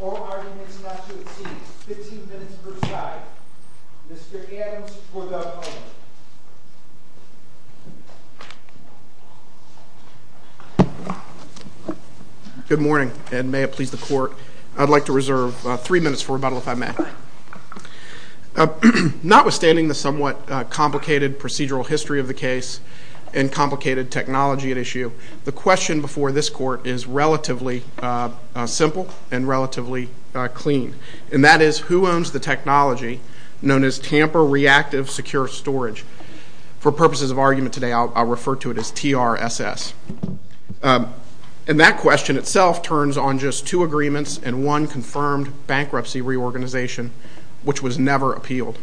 All arguments not to exceed 15 minutes per side. Mr. Adams for the moment. Good morning and may it please the court. I'd like to reserve three minutes for rebuttal if I may. Notwithstanding the somewhat complicated procedural history of the case and complicated technology at issue, the question before this court is relatively simple and relatively clean. And that is, who owns the technology known as Tamper Reactive Secure Storage? For purposes of argument today, I'll refer to it as TRSS. And that question itself turns on just two agreements and one confirmed bankruptcy reorganization, which was never appealed.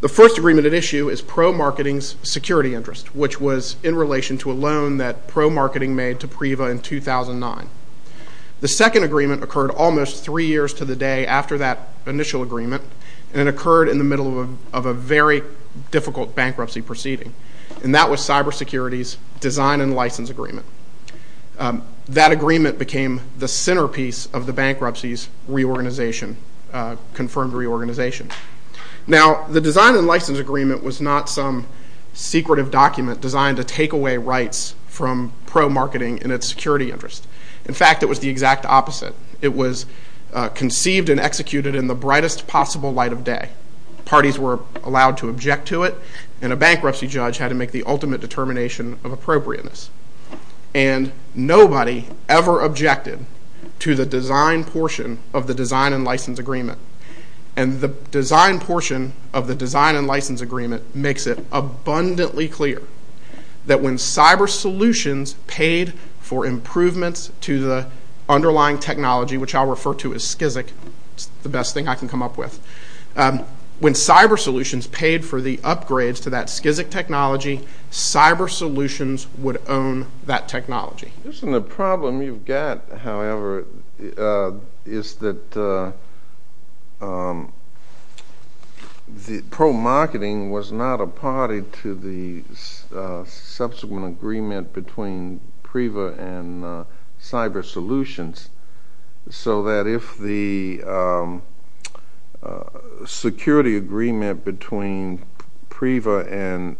The first agreement at issue is Pro Marketing's security interest, which was in relation to a loan that Pro Marketing made to Priva in 2009. The second agreement occurred almost three years to the day after that initial agreement, and it occurred in the middle of a very difficult bankruptcy proceeding. And that was Cyber Security's design and license agreement. That agreement became the centerpiece of the bankruptcy's reorganization, confirmed reorganization. Now, the design and license agreement was not some secretive document designed to take away rights from Pro Marketing and its security interest. In fact, it was the exact opposite. It was conceived and executed in the brightest possible light of day. Parties were allowed to object to it, and a bankruptcy judge had to make the ultimate determination of appropriateness. And nobody ever objected to the design portion of the design and license agreement. And the design portion of the design and license agreement makes it abundantly clear that when Cyber Solutions paid for improvements to the underlying technology, which I'll refer to as SKIZZIK, it's the best thing I can come up with, when Cyber Solutions paid for the upgrades to that SKIZZIK technology, Cyber Solutions would own that technology. The problem you've got, however, is that Pro Marketing was not a party to the subsequent agreement between PRIVA and Cyber Solutions, so that if the security agreement between PRIVA had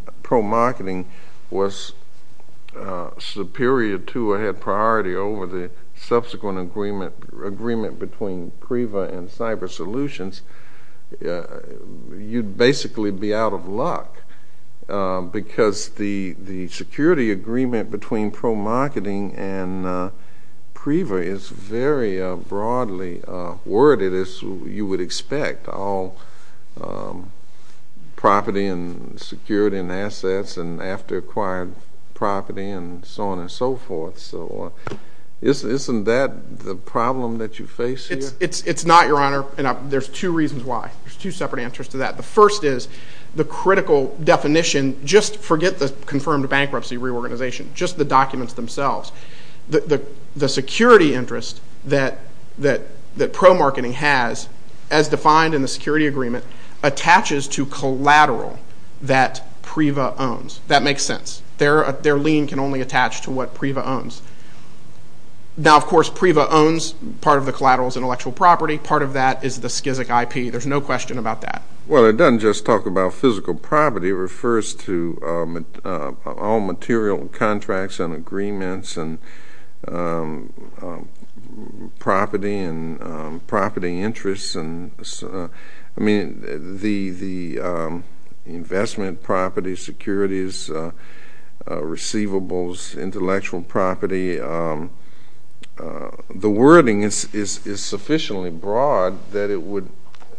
priority over the subsequent agreement between PRIVA and Cyber Solutions, you'd basically be out of luck, because the security agreement between Pro Marketing and PRIVA is very broadly worded, as you would expect. All property and security and assets and after acquired property and so on and so forth. So isn't that the problem that you face here? It's not, Your Honor, and there's two reasons why. There's two separate answers to that. The first is the critical definition, just forget the confirmed bankruptcy reorganization, just the documents themselves. The security interest that Pro Marketing has, as defined in the security agreement, attaches to collateral that PRIVA owns. That makes sense. Their lien can only attach to what PRIVA owns. Now, of course, PRIVA owns part of the collateral's intellectual property, part of that is the SKIZZIK IP, there's no question about that. Well, it doesn't just talk about physical property, it refers to all material contracts and agreements and property and property interests. I mean, the investment property, securities, receivables, intellectual property, the wording is sufficiently broad that it would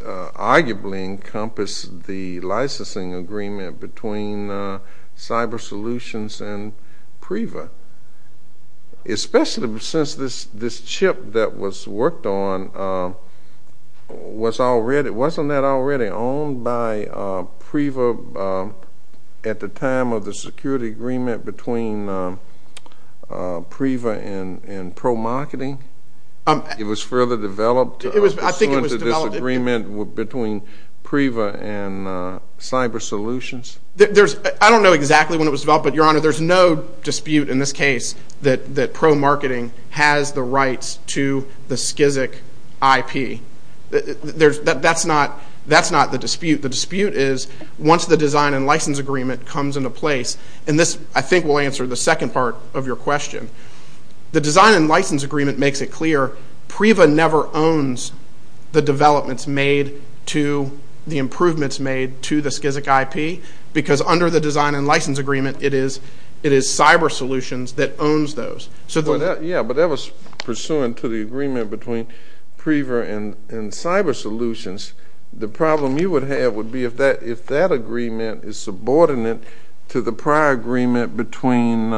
arguably encompass the licensing agreement between Cyber Solutions and PRIVA, especially since this chip that was worked on, wasn't that already owned by PRIVA at the time of the security agreement between PRIVA and Pro Marketing? It was further developed pursuant to this agreement between PRIVA and Cyber Solutions? I don't know exactly when it was developed, but, Your Honor, there's no dispute in this case that Pro Marketing has the rights to the SKIZZIK IP. That's not the dispute. The dispute is, once the design and license agreement comes into place, and this, I think, will answer the second part of your question. The design and license agreement makes it clear, PRIVA never owns the developments made to the improvements made to the SKIZZIK IP, because under the design and license agreement, it is Cyber Solutions that owns those. Yeah, but that was pursuant to the agreement between PRIVA and Cyber Solutions. The problem you would have would be if that agreement is subordinate to the prior agreement between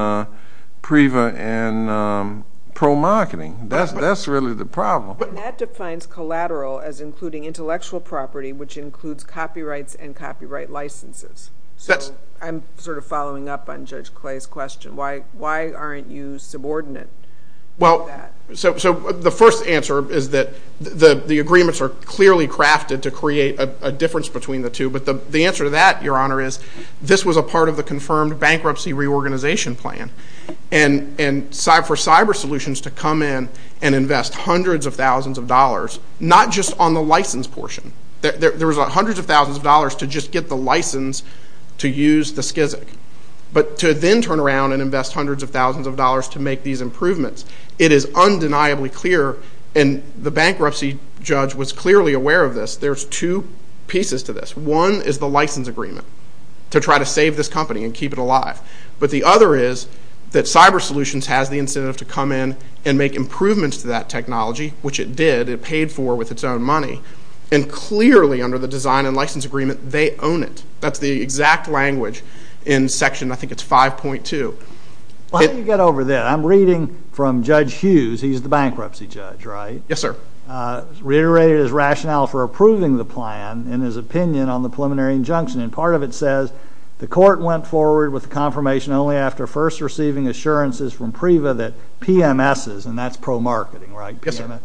PRIVA and Pro Marketing. That's really the problem. That defines collateral as including intellectual property, which includes copyrights and copyright licenses. I'm sort of following up on Judge Clay's question. Why aren't you subordinate to that? The first answer is that the agreements are clearly crafted to create a difference between the two, but the answer to that, Your Honor, is this was a part of the confirmed bankruptcy reorganization plan, and for Cyber Solutions to come in and invest hundreds of thousands of dollars, not just on the license portion. There was hundreds of thousands of dollars to just get the license to use the SKIZZIK, but to then turn around and invest hundreds of thousands of dollars to make these improvements. It is undeniably clear, and the bankruptcy judge was clearly aware of this, there's two pieces to this. One is the license agreement to try to save this company and keep it alive, but the other is that Cyber Solutions has the incentive to come in and make improvements to that technology, which it did. It paid for with its own money, and clearly under the design and license agreement, they own it. That's the exact language in section, I think it's 5.2. How do you get over that? I'm reading from Judge Hughes. He's the bankruptcy judge, right? Yes, sir. Reiterated his rationale for approving the plan and his opinion on the preliminary injunction. Part of it says, the court went forward with the confirmation only after first receiving assurances from PREVA that PMSs, and that's pro-marketing, right? Yes, sir.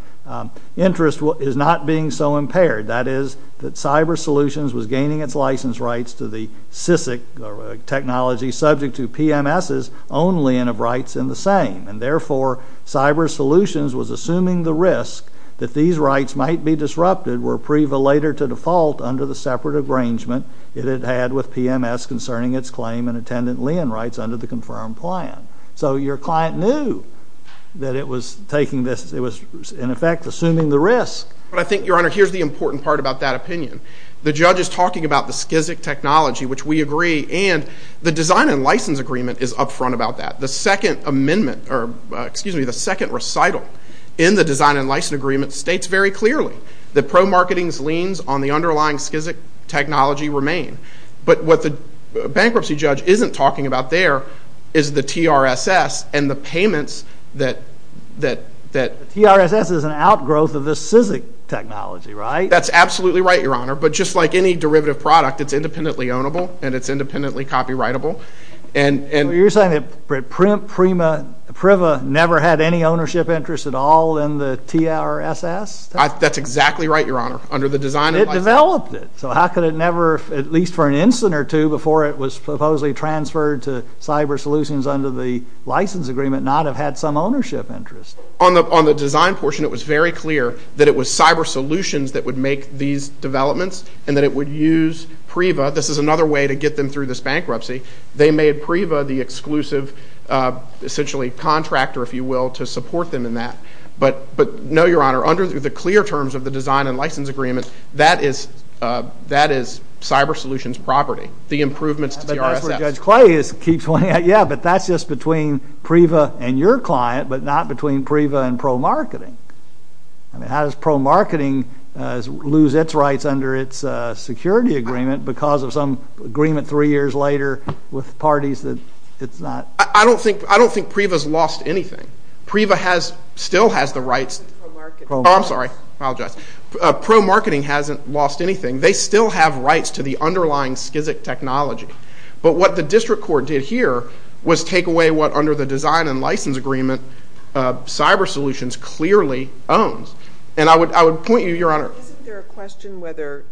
Interest is not being so impaired. That is, that Cyber Solutions was gaining its license rights to the SKIZZIK technology subject to PMSs only and of rights in the same. Therefore, Cyber Solutions was assuming the risk that these rights might be disrupted were PREVA later to default under the separate arrangement it had had with PMS concerning its claim and attendant lien rights under the confirmed plan. So your client knew that it was taking this, it was in effect assuming the risk. But I think, Your Honor, here's the important part about that opinion. The judge is talking about the SKIZZIK technology, which we agree, and the design and license agreement is up front about that. The second amendment, or excuse me, the second recital in the design and license agreement, states very clearly that pro-marketing's liens on the underlying SKIZZIK technology remain. But what the bankruptcy judge isn't talking about there is the TRSS and the payments that, that, that... The TRSS is an outgrowth of the SKIZZIK technology, right? That's absolutely right, Your Honor. But just like any derivative product, it's independently ownable and it's independently copyrightable. You're saying that PRIM, PRIMA, PREVA never had any ownership interest at all in the TRSS? That's exactly right, Your Honor. Under the design and license... It developed it. So how could it never, at least for an instant or two before it was supposedly transferred to Cyber Solutions under the license agreement, not have had some ownership interest? On the design portion, it was very clear that it was Cyber Solutions that would make these developments and that it would use PREVA. This is another way to get them through this process. They made PREVA the exclusive, essentially, contractor, if you will, to support them in that. But no, Your Honor, under the clear terms of the design and license agreement, that is, that is Cyber Solutions property. The improvements to TRSS... But that's where Judge Clay keeps pointing out, yeah, but that's just between PREVA and your client, but not between PREVA and pro-marketing. I mean, how does pro-marketing lose its rights under its security agreement because of some agreement three years later with parties that it's not... I don't think PREVA's lost anything. PREVA still has the rights... Pro-marketing. Oh, I'm sorry. I apologize. Pro-marketing hasn't lost anything. They still have rights to the underlying SCSIC technology. But what the District Court did here was take away what under the design and license agreement Cyber Solutions clearly owns. And I would point you, Your Honor... Isn't there a question whether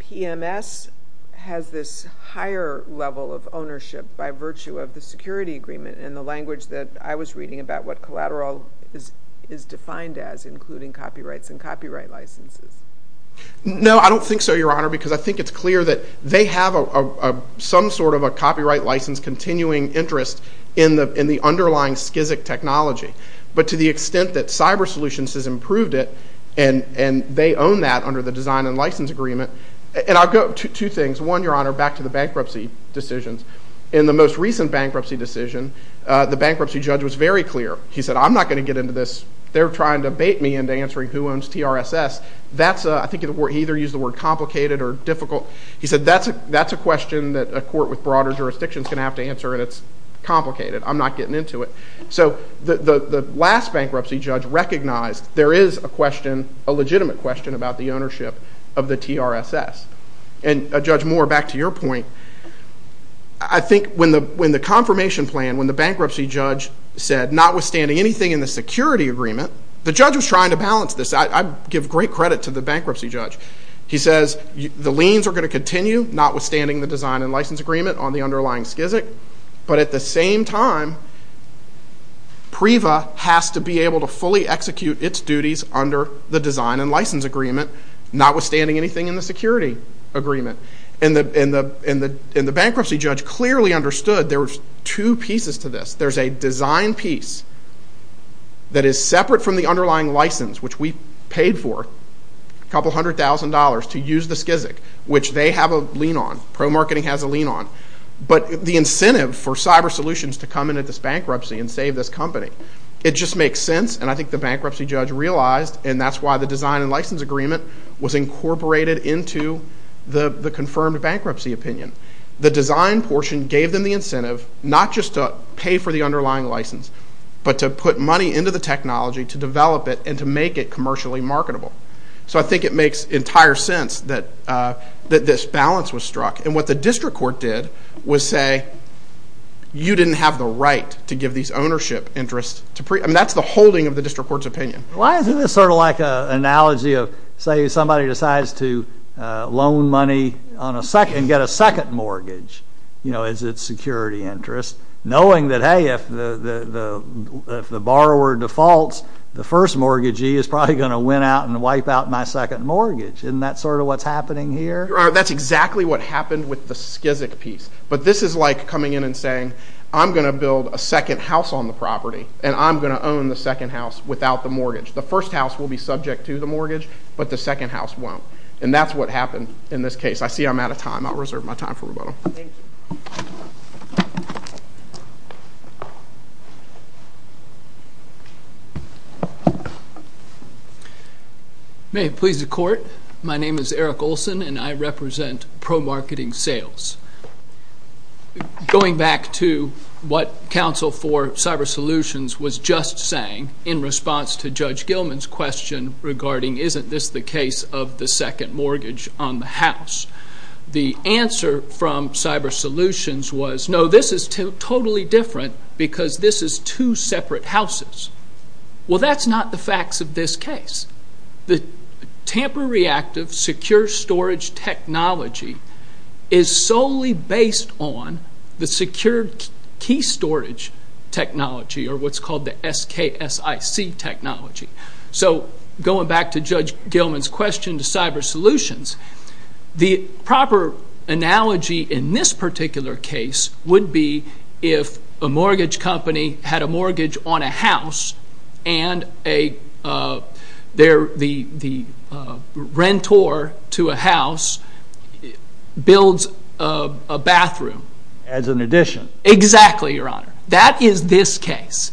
PMS has this higher level of ownership by virtue of the security agreement and the language that I was reading about what collateral is defined as including copyrights and copyright licenses? No, I don't think so, Your Honor, because I think it's clear that they have some sort of a copyright license continuing interest in the underlying SCSIC technology. But to the extent that Cyber Solutions has improved it and they own that under the design and license agreement... And I'll go... Two things. One, Your Honor, back to the bankruptcy decisions. In the most recent bankruptcy decision, the bankruptcy judge was very clear. He said, I'm not going to get into this. They're trying to bait me into answering who owns TRSS. That's a... I think he either used the word complicated or difficult. He said, that's a question that a court with broader jurisdiction is going to have to answer and it's complicated. I'm not getting into it. So the last bankruptcy judge recognized there is a question, a legitimate question about the ownership of the TRSS. And Judge Moore, back to your point, I think when the confirmation plan, when the bankruptcy judge said, notwithstanding anything in the security agreement, the judge was trying to balance this. I give great credit to the bankruptcy judge. He says, the liens are going to continue, notwithstanding the design and license agreement on the underlying SKZIC. But at the same time, PREVA has to be able to fully execute its duties under the design and license agreement, notwithstanding anything in the security agreement. And the bankruptcy judge clearly understood there was two pieces to this. There's a design piece that is separate from the underlying license, which we paid for, a couple hundred thousand dollars to use the SKZIC, which they have a lien on, ProMarketing has a lien on. But the incentive for CyberSolutions to come in at this bankruptcy and save this company, it just makes sense and I think the bankruptcy judge realized and that's why the design and license agreement was incorporated into the confirmed bankruptcy opinion. The design portion gave them the incentive, not just to pay for the underlying license, but to put money into the technology to develop it and to make it commercially marketable. So I think it makes entire sense that this balance was struck. And what the district court did was say, you didn't have the right to give these ownership interests to PREVA. I mean, that's the holding of the district court's opinion. Why isn't this sort of like an analogy of, say, somebody decides to loan money and get a second mortgage as its security interest, knowing that, hey, if the borrower defaults, the first mortgagee is probably going to win out and wipe out my second mortgage. Isn't that sort of what's happening here? Your Honor, that's exactly what happened with the SKZIC piece. But this is like coming in and saying, I'm going to build a second house on the property and I'm going to own the second house without the mortgage. The first house will be subject to the mortgage, but the second house won't. And that's what happened in this case. I see I'm out of time. I'll reserve my time for rebuttal. May it please the Court, my name is Eric Olson and I represent ProMarketing Sales. Going back to what counsel for CyberSolutions was just saying in response to Judge Gilman's question regarding, isn't this the case of the second mortgage on the house? The answer from CyberSolutions was, no, this is totally different because this is two separate houses. Well, that's not the facts of this case. The Tamper Reactive Secure Storage Technology is solely based on the Secure Key Storage Technology, or what's called the SKSIC technology. So going back to Judge Gilman's question to CyberSolutions, the proper analogy in this case is a house and the rentor to a house builds a bathroom. As an addition. Exactly, Your Honor. That is this case.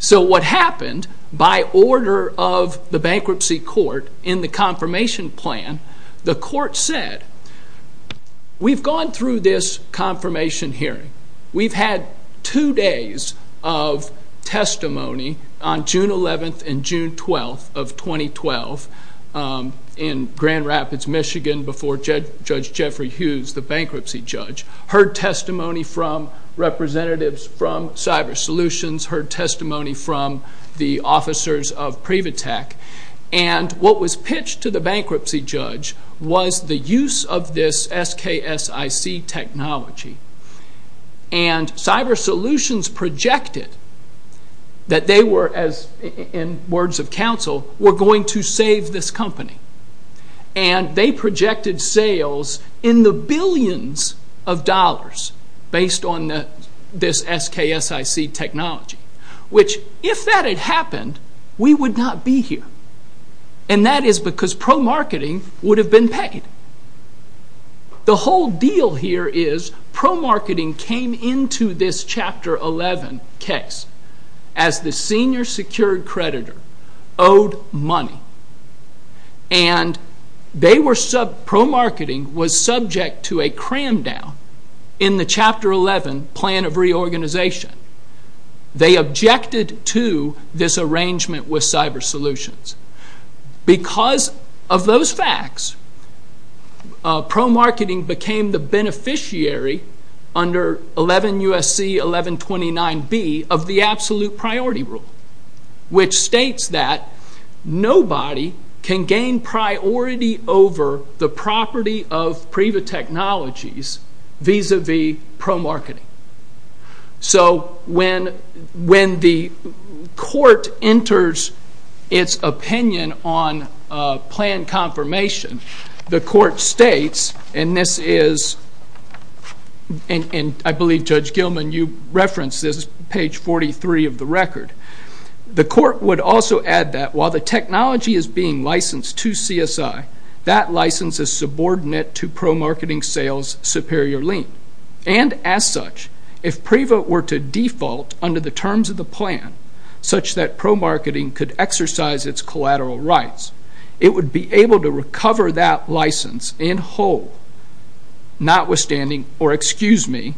So what happened, by order of the Bankruptcy Court in the confirmation plan, the Court said, we've gone through this confirmation hearing. We've had two days of testimony on June 11th and June 12th of 2012 in Grand Rapids, Michigan before Judge Jeffrey Hughes, the bankruptcy judge, heard testimony from representatives from CyberSolutions, heard testimony from the officers of Privatek, and what was pitched to the bankruptcy judge was the use of this SKSIC technology. CyberSolutions projected that they were, in words of counsel, were going to save this company. They projected sales in the billions of dollars based on this SKSIC technology, which if that had happened, we would not be here. And that is because pro-marketing would have been paid. The whole deal here is pro-marketing came into this Chapter 11 case as the senior secured creditor owed money, and pro-marketing was subject to a cram down in the Chapter 11 plan of reorganization. They objected to this arrangement with CyberSolutions. Because of those facts, pro-marketing became the beneficiary under 11 U.S.C. 1129B of the absolute priority rule, which states that nobody can gain priority over the property of Privatek Technologies vis-à-vis pro-marketing. So, when the court enters its opinion on plan confirmation, the court states, and I believe Judge Gilman, you referenced this, page 43 of the record. The court would also add that while the technology is being licensed to CSI, that license is subordinate to pro-marketing sales superior lien. And as such, if Priva were to default under the terms of the plan such that pro-marketing could exercise its collateral rights, it would be able to recover that license in whole, notwithstanding, or excuse me,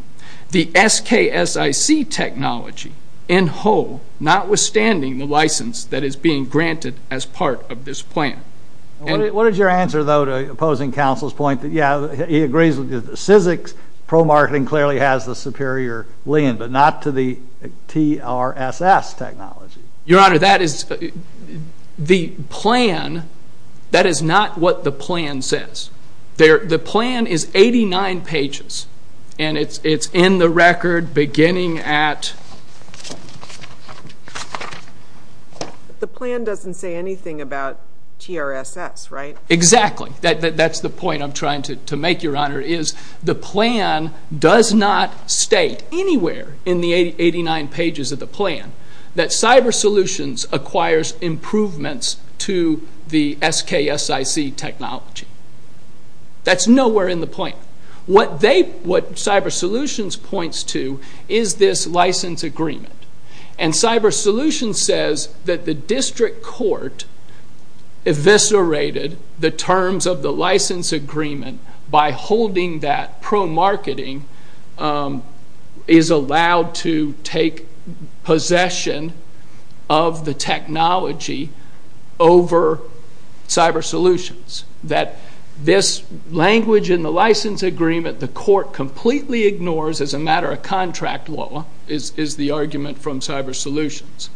the SKSIC technology in whole, notwithstanding the license that is being granted as part of this plan. What is your answer, though, to opposing counsel's point that, yeah, he agrees with the SKSIC, pro-marketing clearly has the superior lien, but not to the TRSS technology? Your Honor, that is, the plan, that is not what the plan says. The plan is 89 pages, and it's in the record beginning at... The plan doesn't say anything about TRSS, right? Exactly. That's the point I'm trying to make, Your Honor, is the plan does not state anywhere in the 89 pages of the plan that Cyber Solutions acquires improvements to the SKSIC technology. That's nowhere in the plan. What they, what Cyber Solutions points to is this license agreement, and Cyber Solutions says that the district court eviscerated the terms of the license agreement by holding that pro-marketing is allowed to take possession of the technology over Cyber Solutions, that this language in the license agreement, the court completely ignores, as a matter of contract law, is the argument from Cyber Solutions.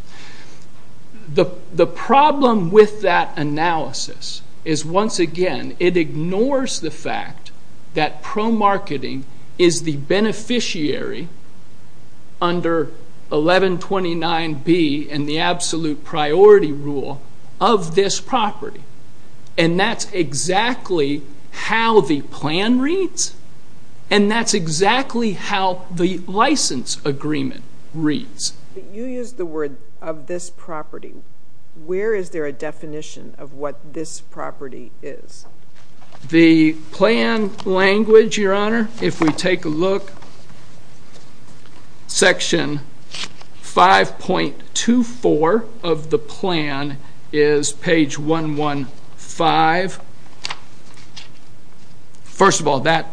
The problem with that analysis is, once again, it ignores the fact that pro-marketing is the beneficiary under 1129B and the absolute priority rule of this property, and that's exactly how the plan reads, and that's exactly how the license agreement reads. You use the word of this property. Where is there a definition of what this property is? The plan language, Your Honor, if we take a look, section 5.24 of the plan is page 115 First of all, that,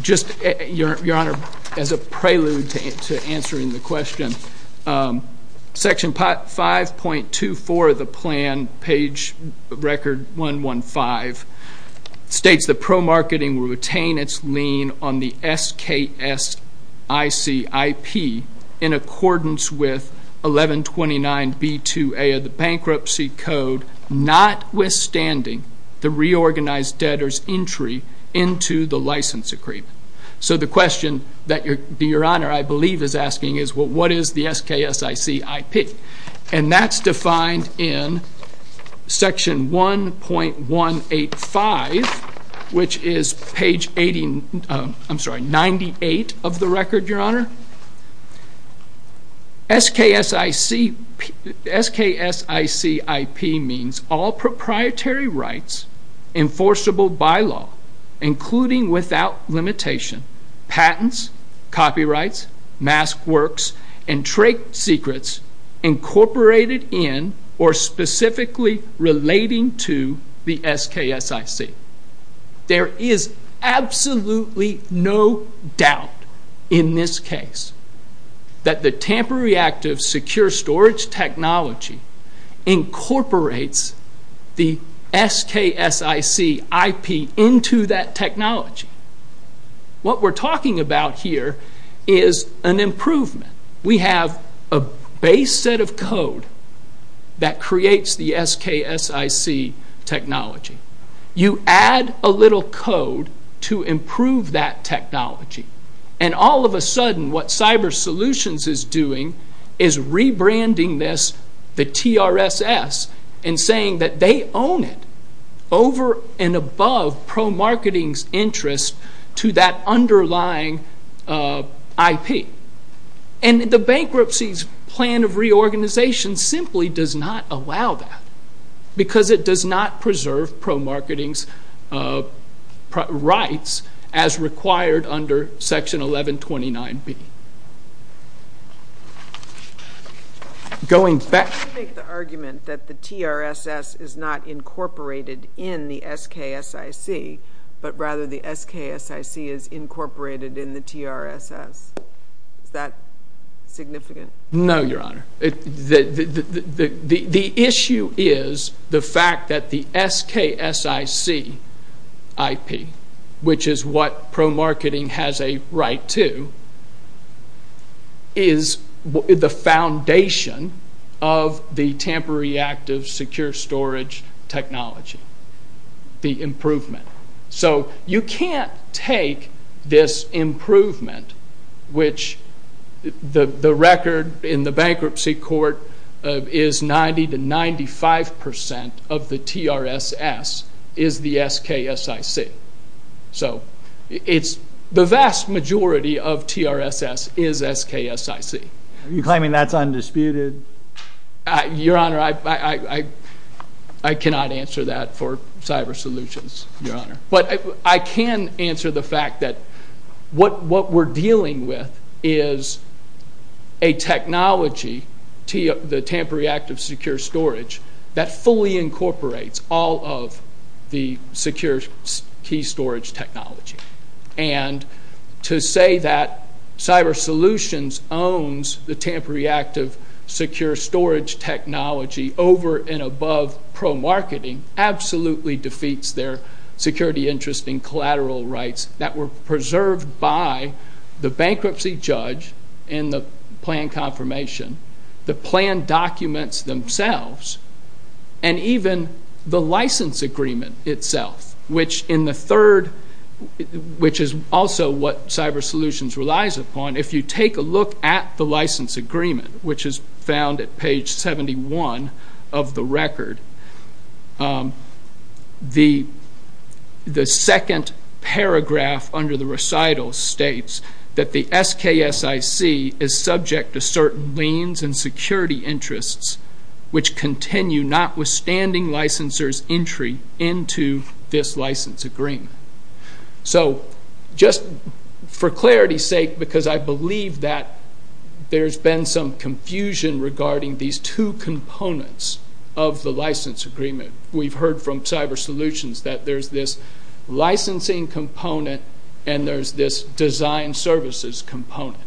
just, Your Honor, as a prelude to answering the question, section 5.24 of the plan, page record 115, states that pro-marketing will retain its lien on the SKSICIP in accordance with 1129B2A of the bankruptcy code, notwithstanding that the reorganized debtor's entry into the license agreement. So the question that Your Honor, I believe, is asking is, well, what is the SKSICIP? And that's defined in section 1.185, which is page 98 of the record, Your Honor. SKSICIP means all proprietary rights enforceable by law, including without limitation, patents, copyrights, mask works, and trade secrets incorporated in or specifically relating to the SKSIC. There is absolutely no doubt in this case that the Tampa Reactive Secure Storage Technology incorporates the SKSICIP into that technology. What we're talking about here is an improvement. We have a base set of code that creates the SKSIC technology. You add a little code to improve that technology. And all of a sudden, what Cyber Solutions is doing is rebranding this, the TRSS, and saying that they own it over and above pro-marketing's interest to that underlying IP. And the bankruptcy's plan of reorganization simply does not allow that because it does not preserve pro-marketing's rights as required under section 1129B. Could you make the argument that the TRSS is not incorporated in the SKSIC, but rather the SKSIC is incorporated in the TRSS? Is that significant? The issue is the fact that the SKSICIP, which is what pro-marketing has a right to, is a foundation of the Tampa Reactive Secure Storage Technology, the improvement. So you can't take this improvement, which the record in the bankruptcy court is 90 to 95% of the TRSS is the SKSIC. So the vast majority of TRSS is SKSIC. Are you claiming that's undisputed? Your Honor, I cannot answer that for Cyber Solutions, Your Honor. But I can answer the fact that what we're dealing with is a technology, the Tampa Reactive Secure Storage, that fully incorporates all of the secure key storage technology. And to say that Cyber Solutions owns the Tampa Reactive Secure Storage Technology over and above pro-marketing absolutely defeats their security interest in collateral rights that were preserved by the bankruptcy judge in the plan confirmation, the plan documents themselves, and even the license agreement itself, which in the third, which is also what Cyber Solutions relies upon, if you take a look at the license agreement, which is found at page 71 of the record, the second paragraph under the recital states that the SKSIC is subject to certain liens and security interests, which continue notwithstanding licensor's entry into this license agreement. So just for clarity's sake, because I believe that there's been some confusion regarding these two components of the license agreement, we've heard from Cyber Solutions that there's this licensing component and there's this design services component.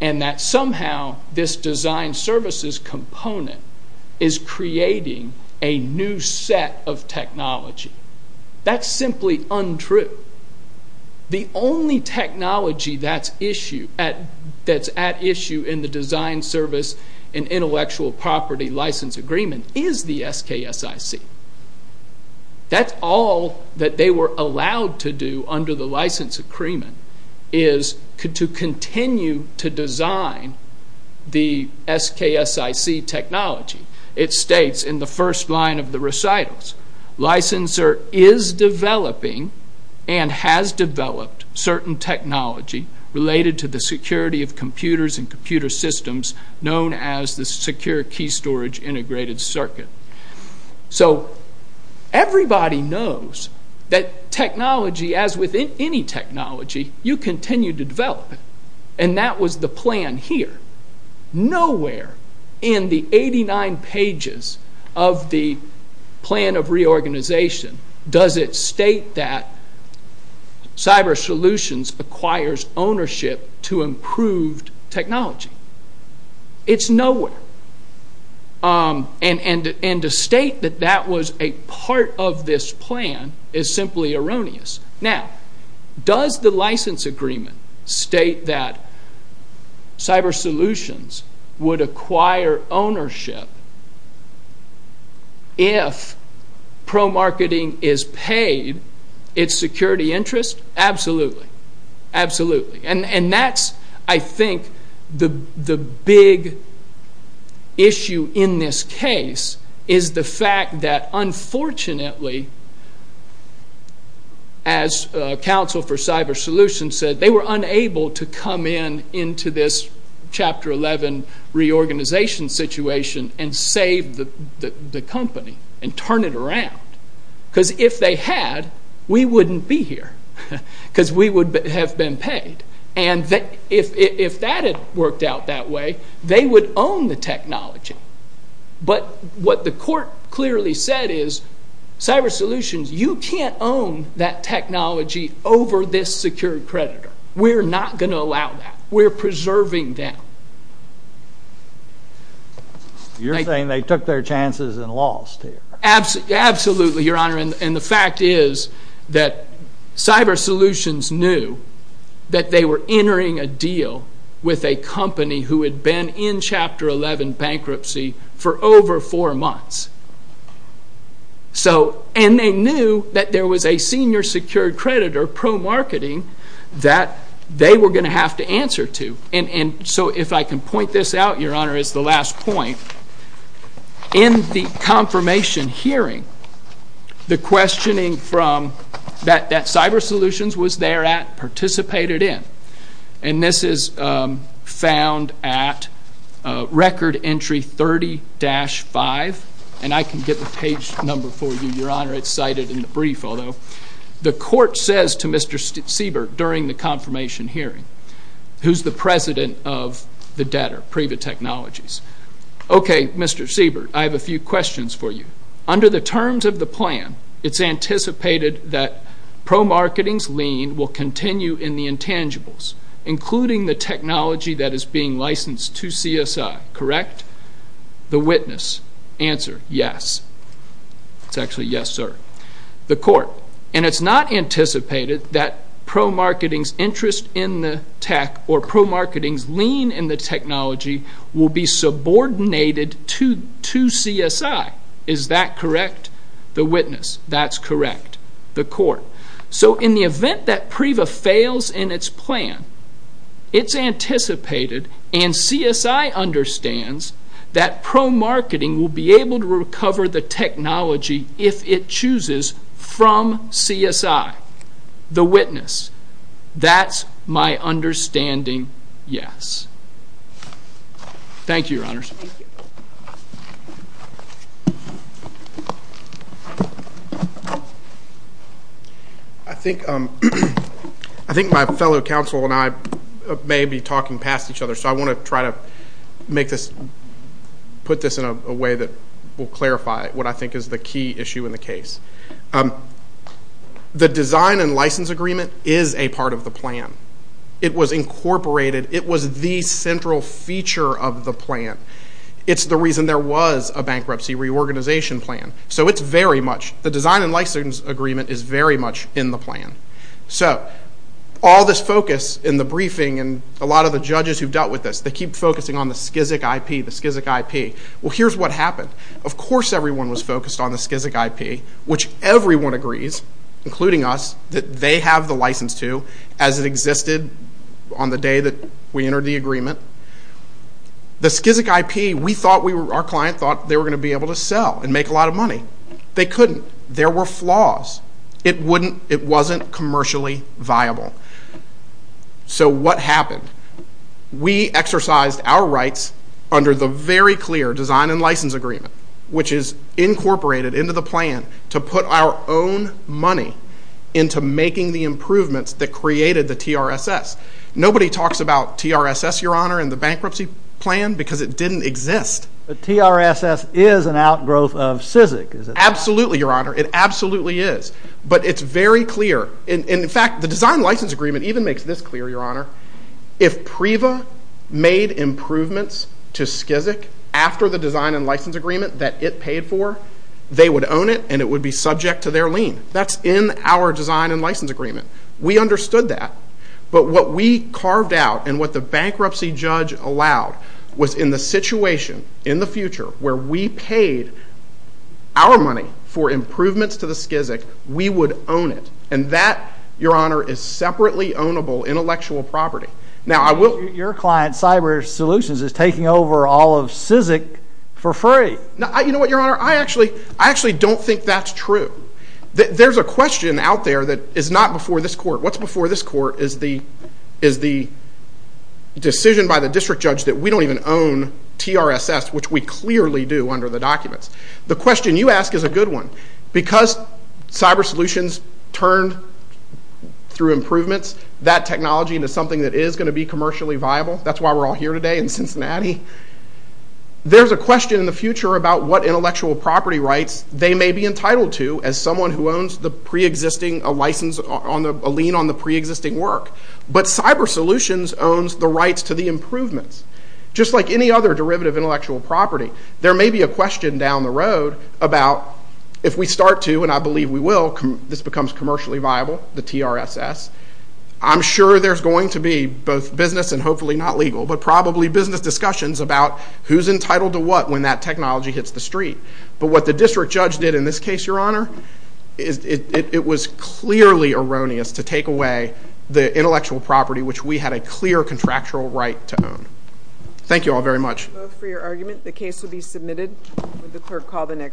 And that somehow this design services component is creating a new set of technology. That's simply unthinkable. Untrue. The only technology that's at issue in the design service and intellectual property license agreement is the SKSIC. That's all that they were allowed to do under the license agreement is to continue to design the SKSIC technology. It states in the first line of the recitals, licensor is developing and has developed certain technology related to the security of computers and computer systems known as the secure key storage integrated circuit. So everybody knows that technology, as with any technology, you continue to develop it. And that was the plan here. Nowhere in the 89 pages of the plan of reorganization does it state that Cyber Solutions acquires ownership to improved technology. It's nowhere. And to state that that was a part of this plan is simply erroneous. Now, does the license agreement state that Cyber Solutions would acquire ownership if pro-marketing is paid its security interest? Absolutely. Absolutely. And that's, I think, the big issue in this case is the fact that, unfortunately, as counsel for Cyber Solutions says, we're going to say they were unable to come in into this Chapter 11 reorganization situation and save the company and turn it around. Because if they had, we wouldn't be here. Because we would have been paid. And if that had worked out that way, they would own the technology. But what the court clearly said is, Cyber Solutions, you can't own that technology over this secured creditor. We're not going to allow that. We're preserving them. You're saying they took their chances and lost here. Absolutely, Your Honor. And the fact is that Cyber Solutions knew that they were entering a deal with a company who had been in Chapter 11 bankruptcy for over four months. And they knew that there was a senior secured creditor pro-marketing that they were going to have to answer to. And so if I can point this out, Your Honor, as the last point, in the confirmation hearing, the questioning from that Cyber Solutions was there at participated in. And this is found at Record Entry 30-5. And I can get the page number for you, Your Honor. It's cited in the brief, although. The court says to Mr. Siebert during the confirmation hearing, who's the president of the debtor, Priva Technologies. Okay, Mr. Siebert, I have a few questions for you. Under the terms of the plan, it's anticipated that pro-marketing's lien will continue in the intangibles, including the tech. It's actually, yes, sir. The court. And it's not anticipated that pro-marketing's interest in the tech or pro-marketing's lien in the technology will be subordinated to CSI. Is that correct? The witness. That's correct. The court. So in the event that Priva fails in its plan, it's anticipated and CSI understands that pro-marketing will be able to recover the technology, if it chooses, from CSI. The witness. That's my understanding, yes. Thank you, Your Honors. I think my fellow counsel and I may be talking past each other, so I want to try to make this, put this in a way that will clarify what I think is the key issue in the case. The design and license agreement is a part of the plan. It was incorporated. It was the central feature of the plan. It's the reason there was a bankruptcy reorganization plan. So it's very much, the design and license agreement is very much in the plan. So all this focus in the briefing and a lot of the judges who've dealt with this, they keep focusing on the Skizik IP, the Skizik IP. Well, here's what happened. Of course everyone was focused on the Skizik IP, which everyone agrees, including us, that they have the license to, as it existed on the day that we entered the agreement. The Skizik IP, we thought we were, our client thought they were going to be able to sell and make a lot of money. They couldn't. There were flaws. It wouldn't, it wasn't commercially viable. So what happened? We exercised our rights under the very clear design and license agreement, which is incorporated into the plan to put our own money into making the improvements that created the TRSS. Nobody talks about TRSS, Your Honor, in the bankruptcy plan because it didn't exist. But TRSS is an outgrowth of Skizik, is it not? Absolutely, Your Honor. It absolutely is. But it's very clear. In fact, the design and license agreement even makes this clear, Your Honor. If PRIVA made improvements to Skizik after the design and license agreement that it paid for, they would own it and it would be subject to their lien. That's in our design and license agreement. We understood that. But what we carved out and what the bankruptcy judge allowed was in the situation in the future where we paid our money for improvements to the Skizik, we would own it. And that, Your Honor, is separately ownable intellectual property. Now your client, Cyber Solutions, is taking over all of Skizik for free. You know what, Your Honor? I actually don't think that's true. There's a question out there that is not before this court. What's before this court is the decision by the district judge that we don't even own TRSS, which we clearly do under the documents. The question you ask is a good one. Because Cyber Solutions turned through improvements that technology into something that is going to be commercially viable, that's why we're all here today in Cincinnati, there's a question in the future about what intellectual property rights they may be entitled to as someone who owns a lien on the preexisting work. But Cyber Solutions owns the rights to the improvements. Just like any other derivative intellectual property, there may be a question down the road about if we start to, and I believe we will, this becomes commercially viable, the TRSS, I'm sure there's going to be both business and hopefully not legal, but probably business discussions about who's entitled to what when that technology hits the street. But what the district judge did in this case, Your Honor, it was clearly erroneous to take away the intellectual property which we had a clear contractual right to own. Thank you all very much. I move for your argument. The case will be submitted. Would the clerk call the next?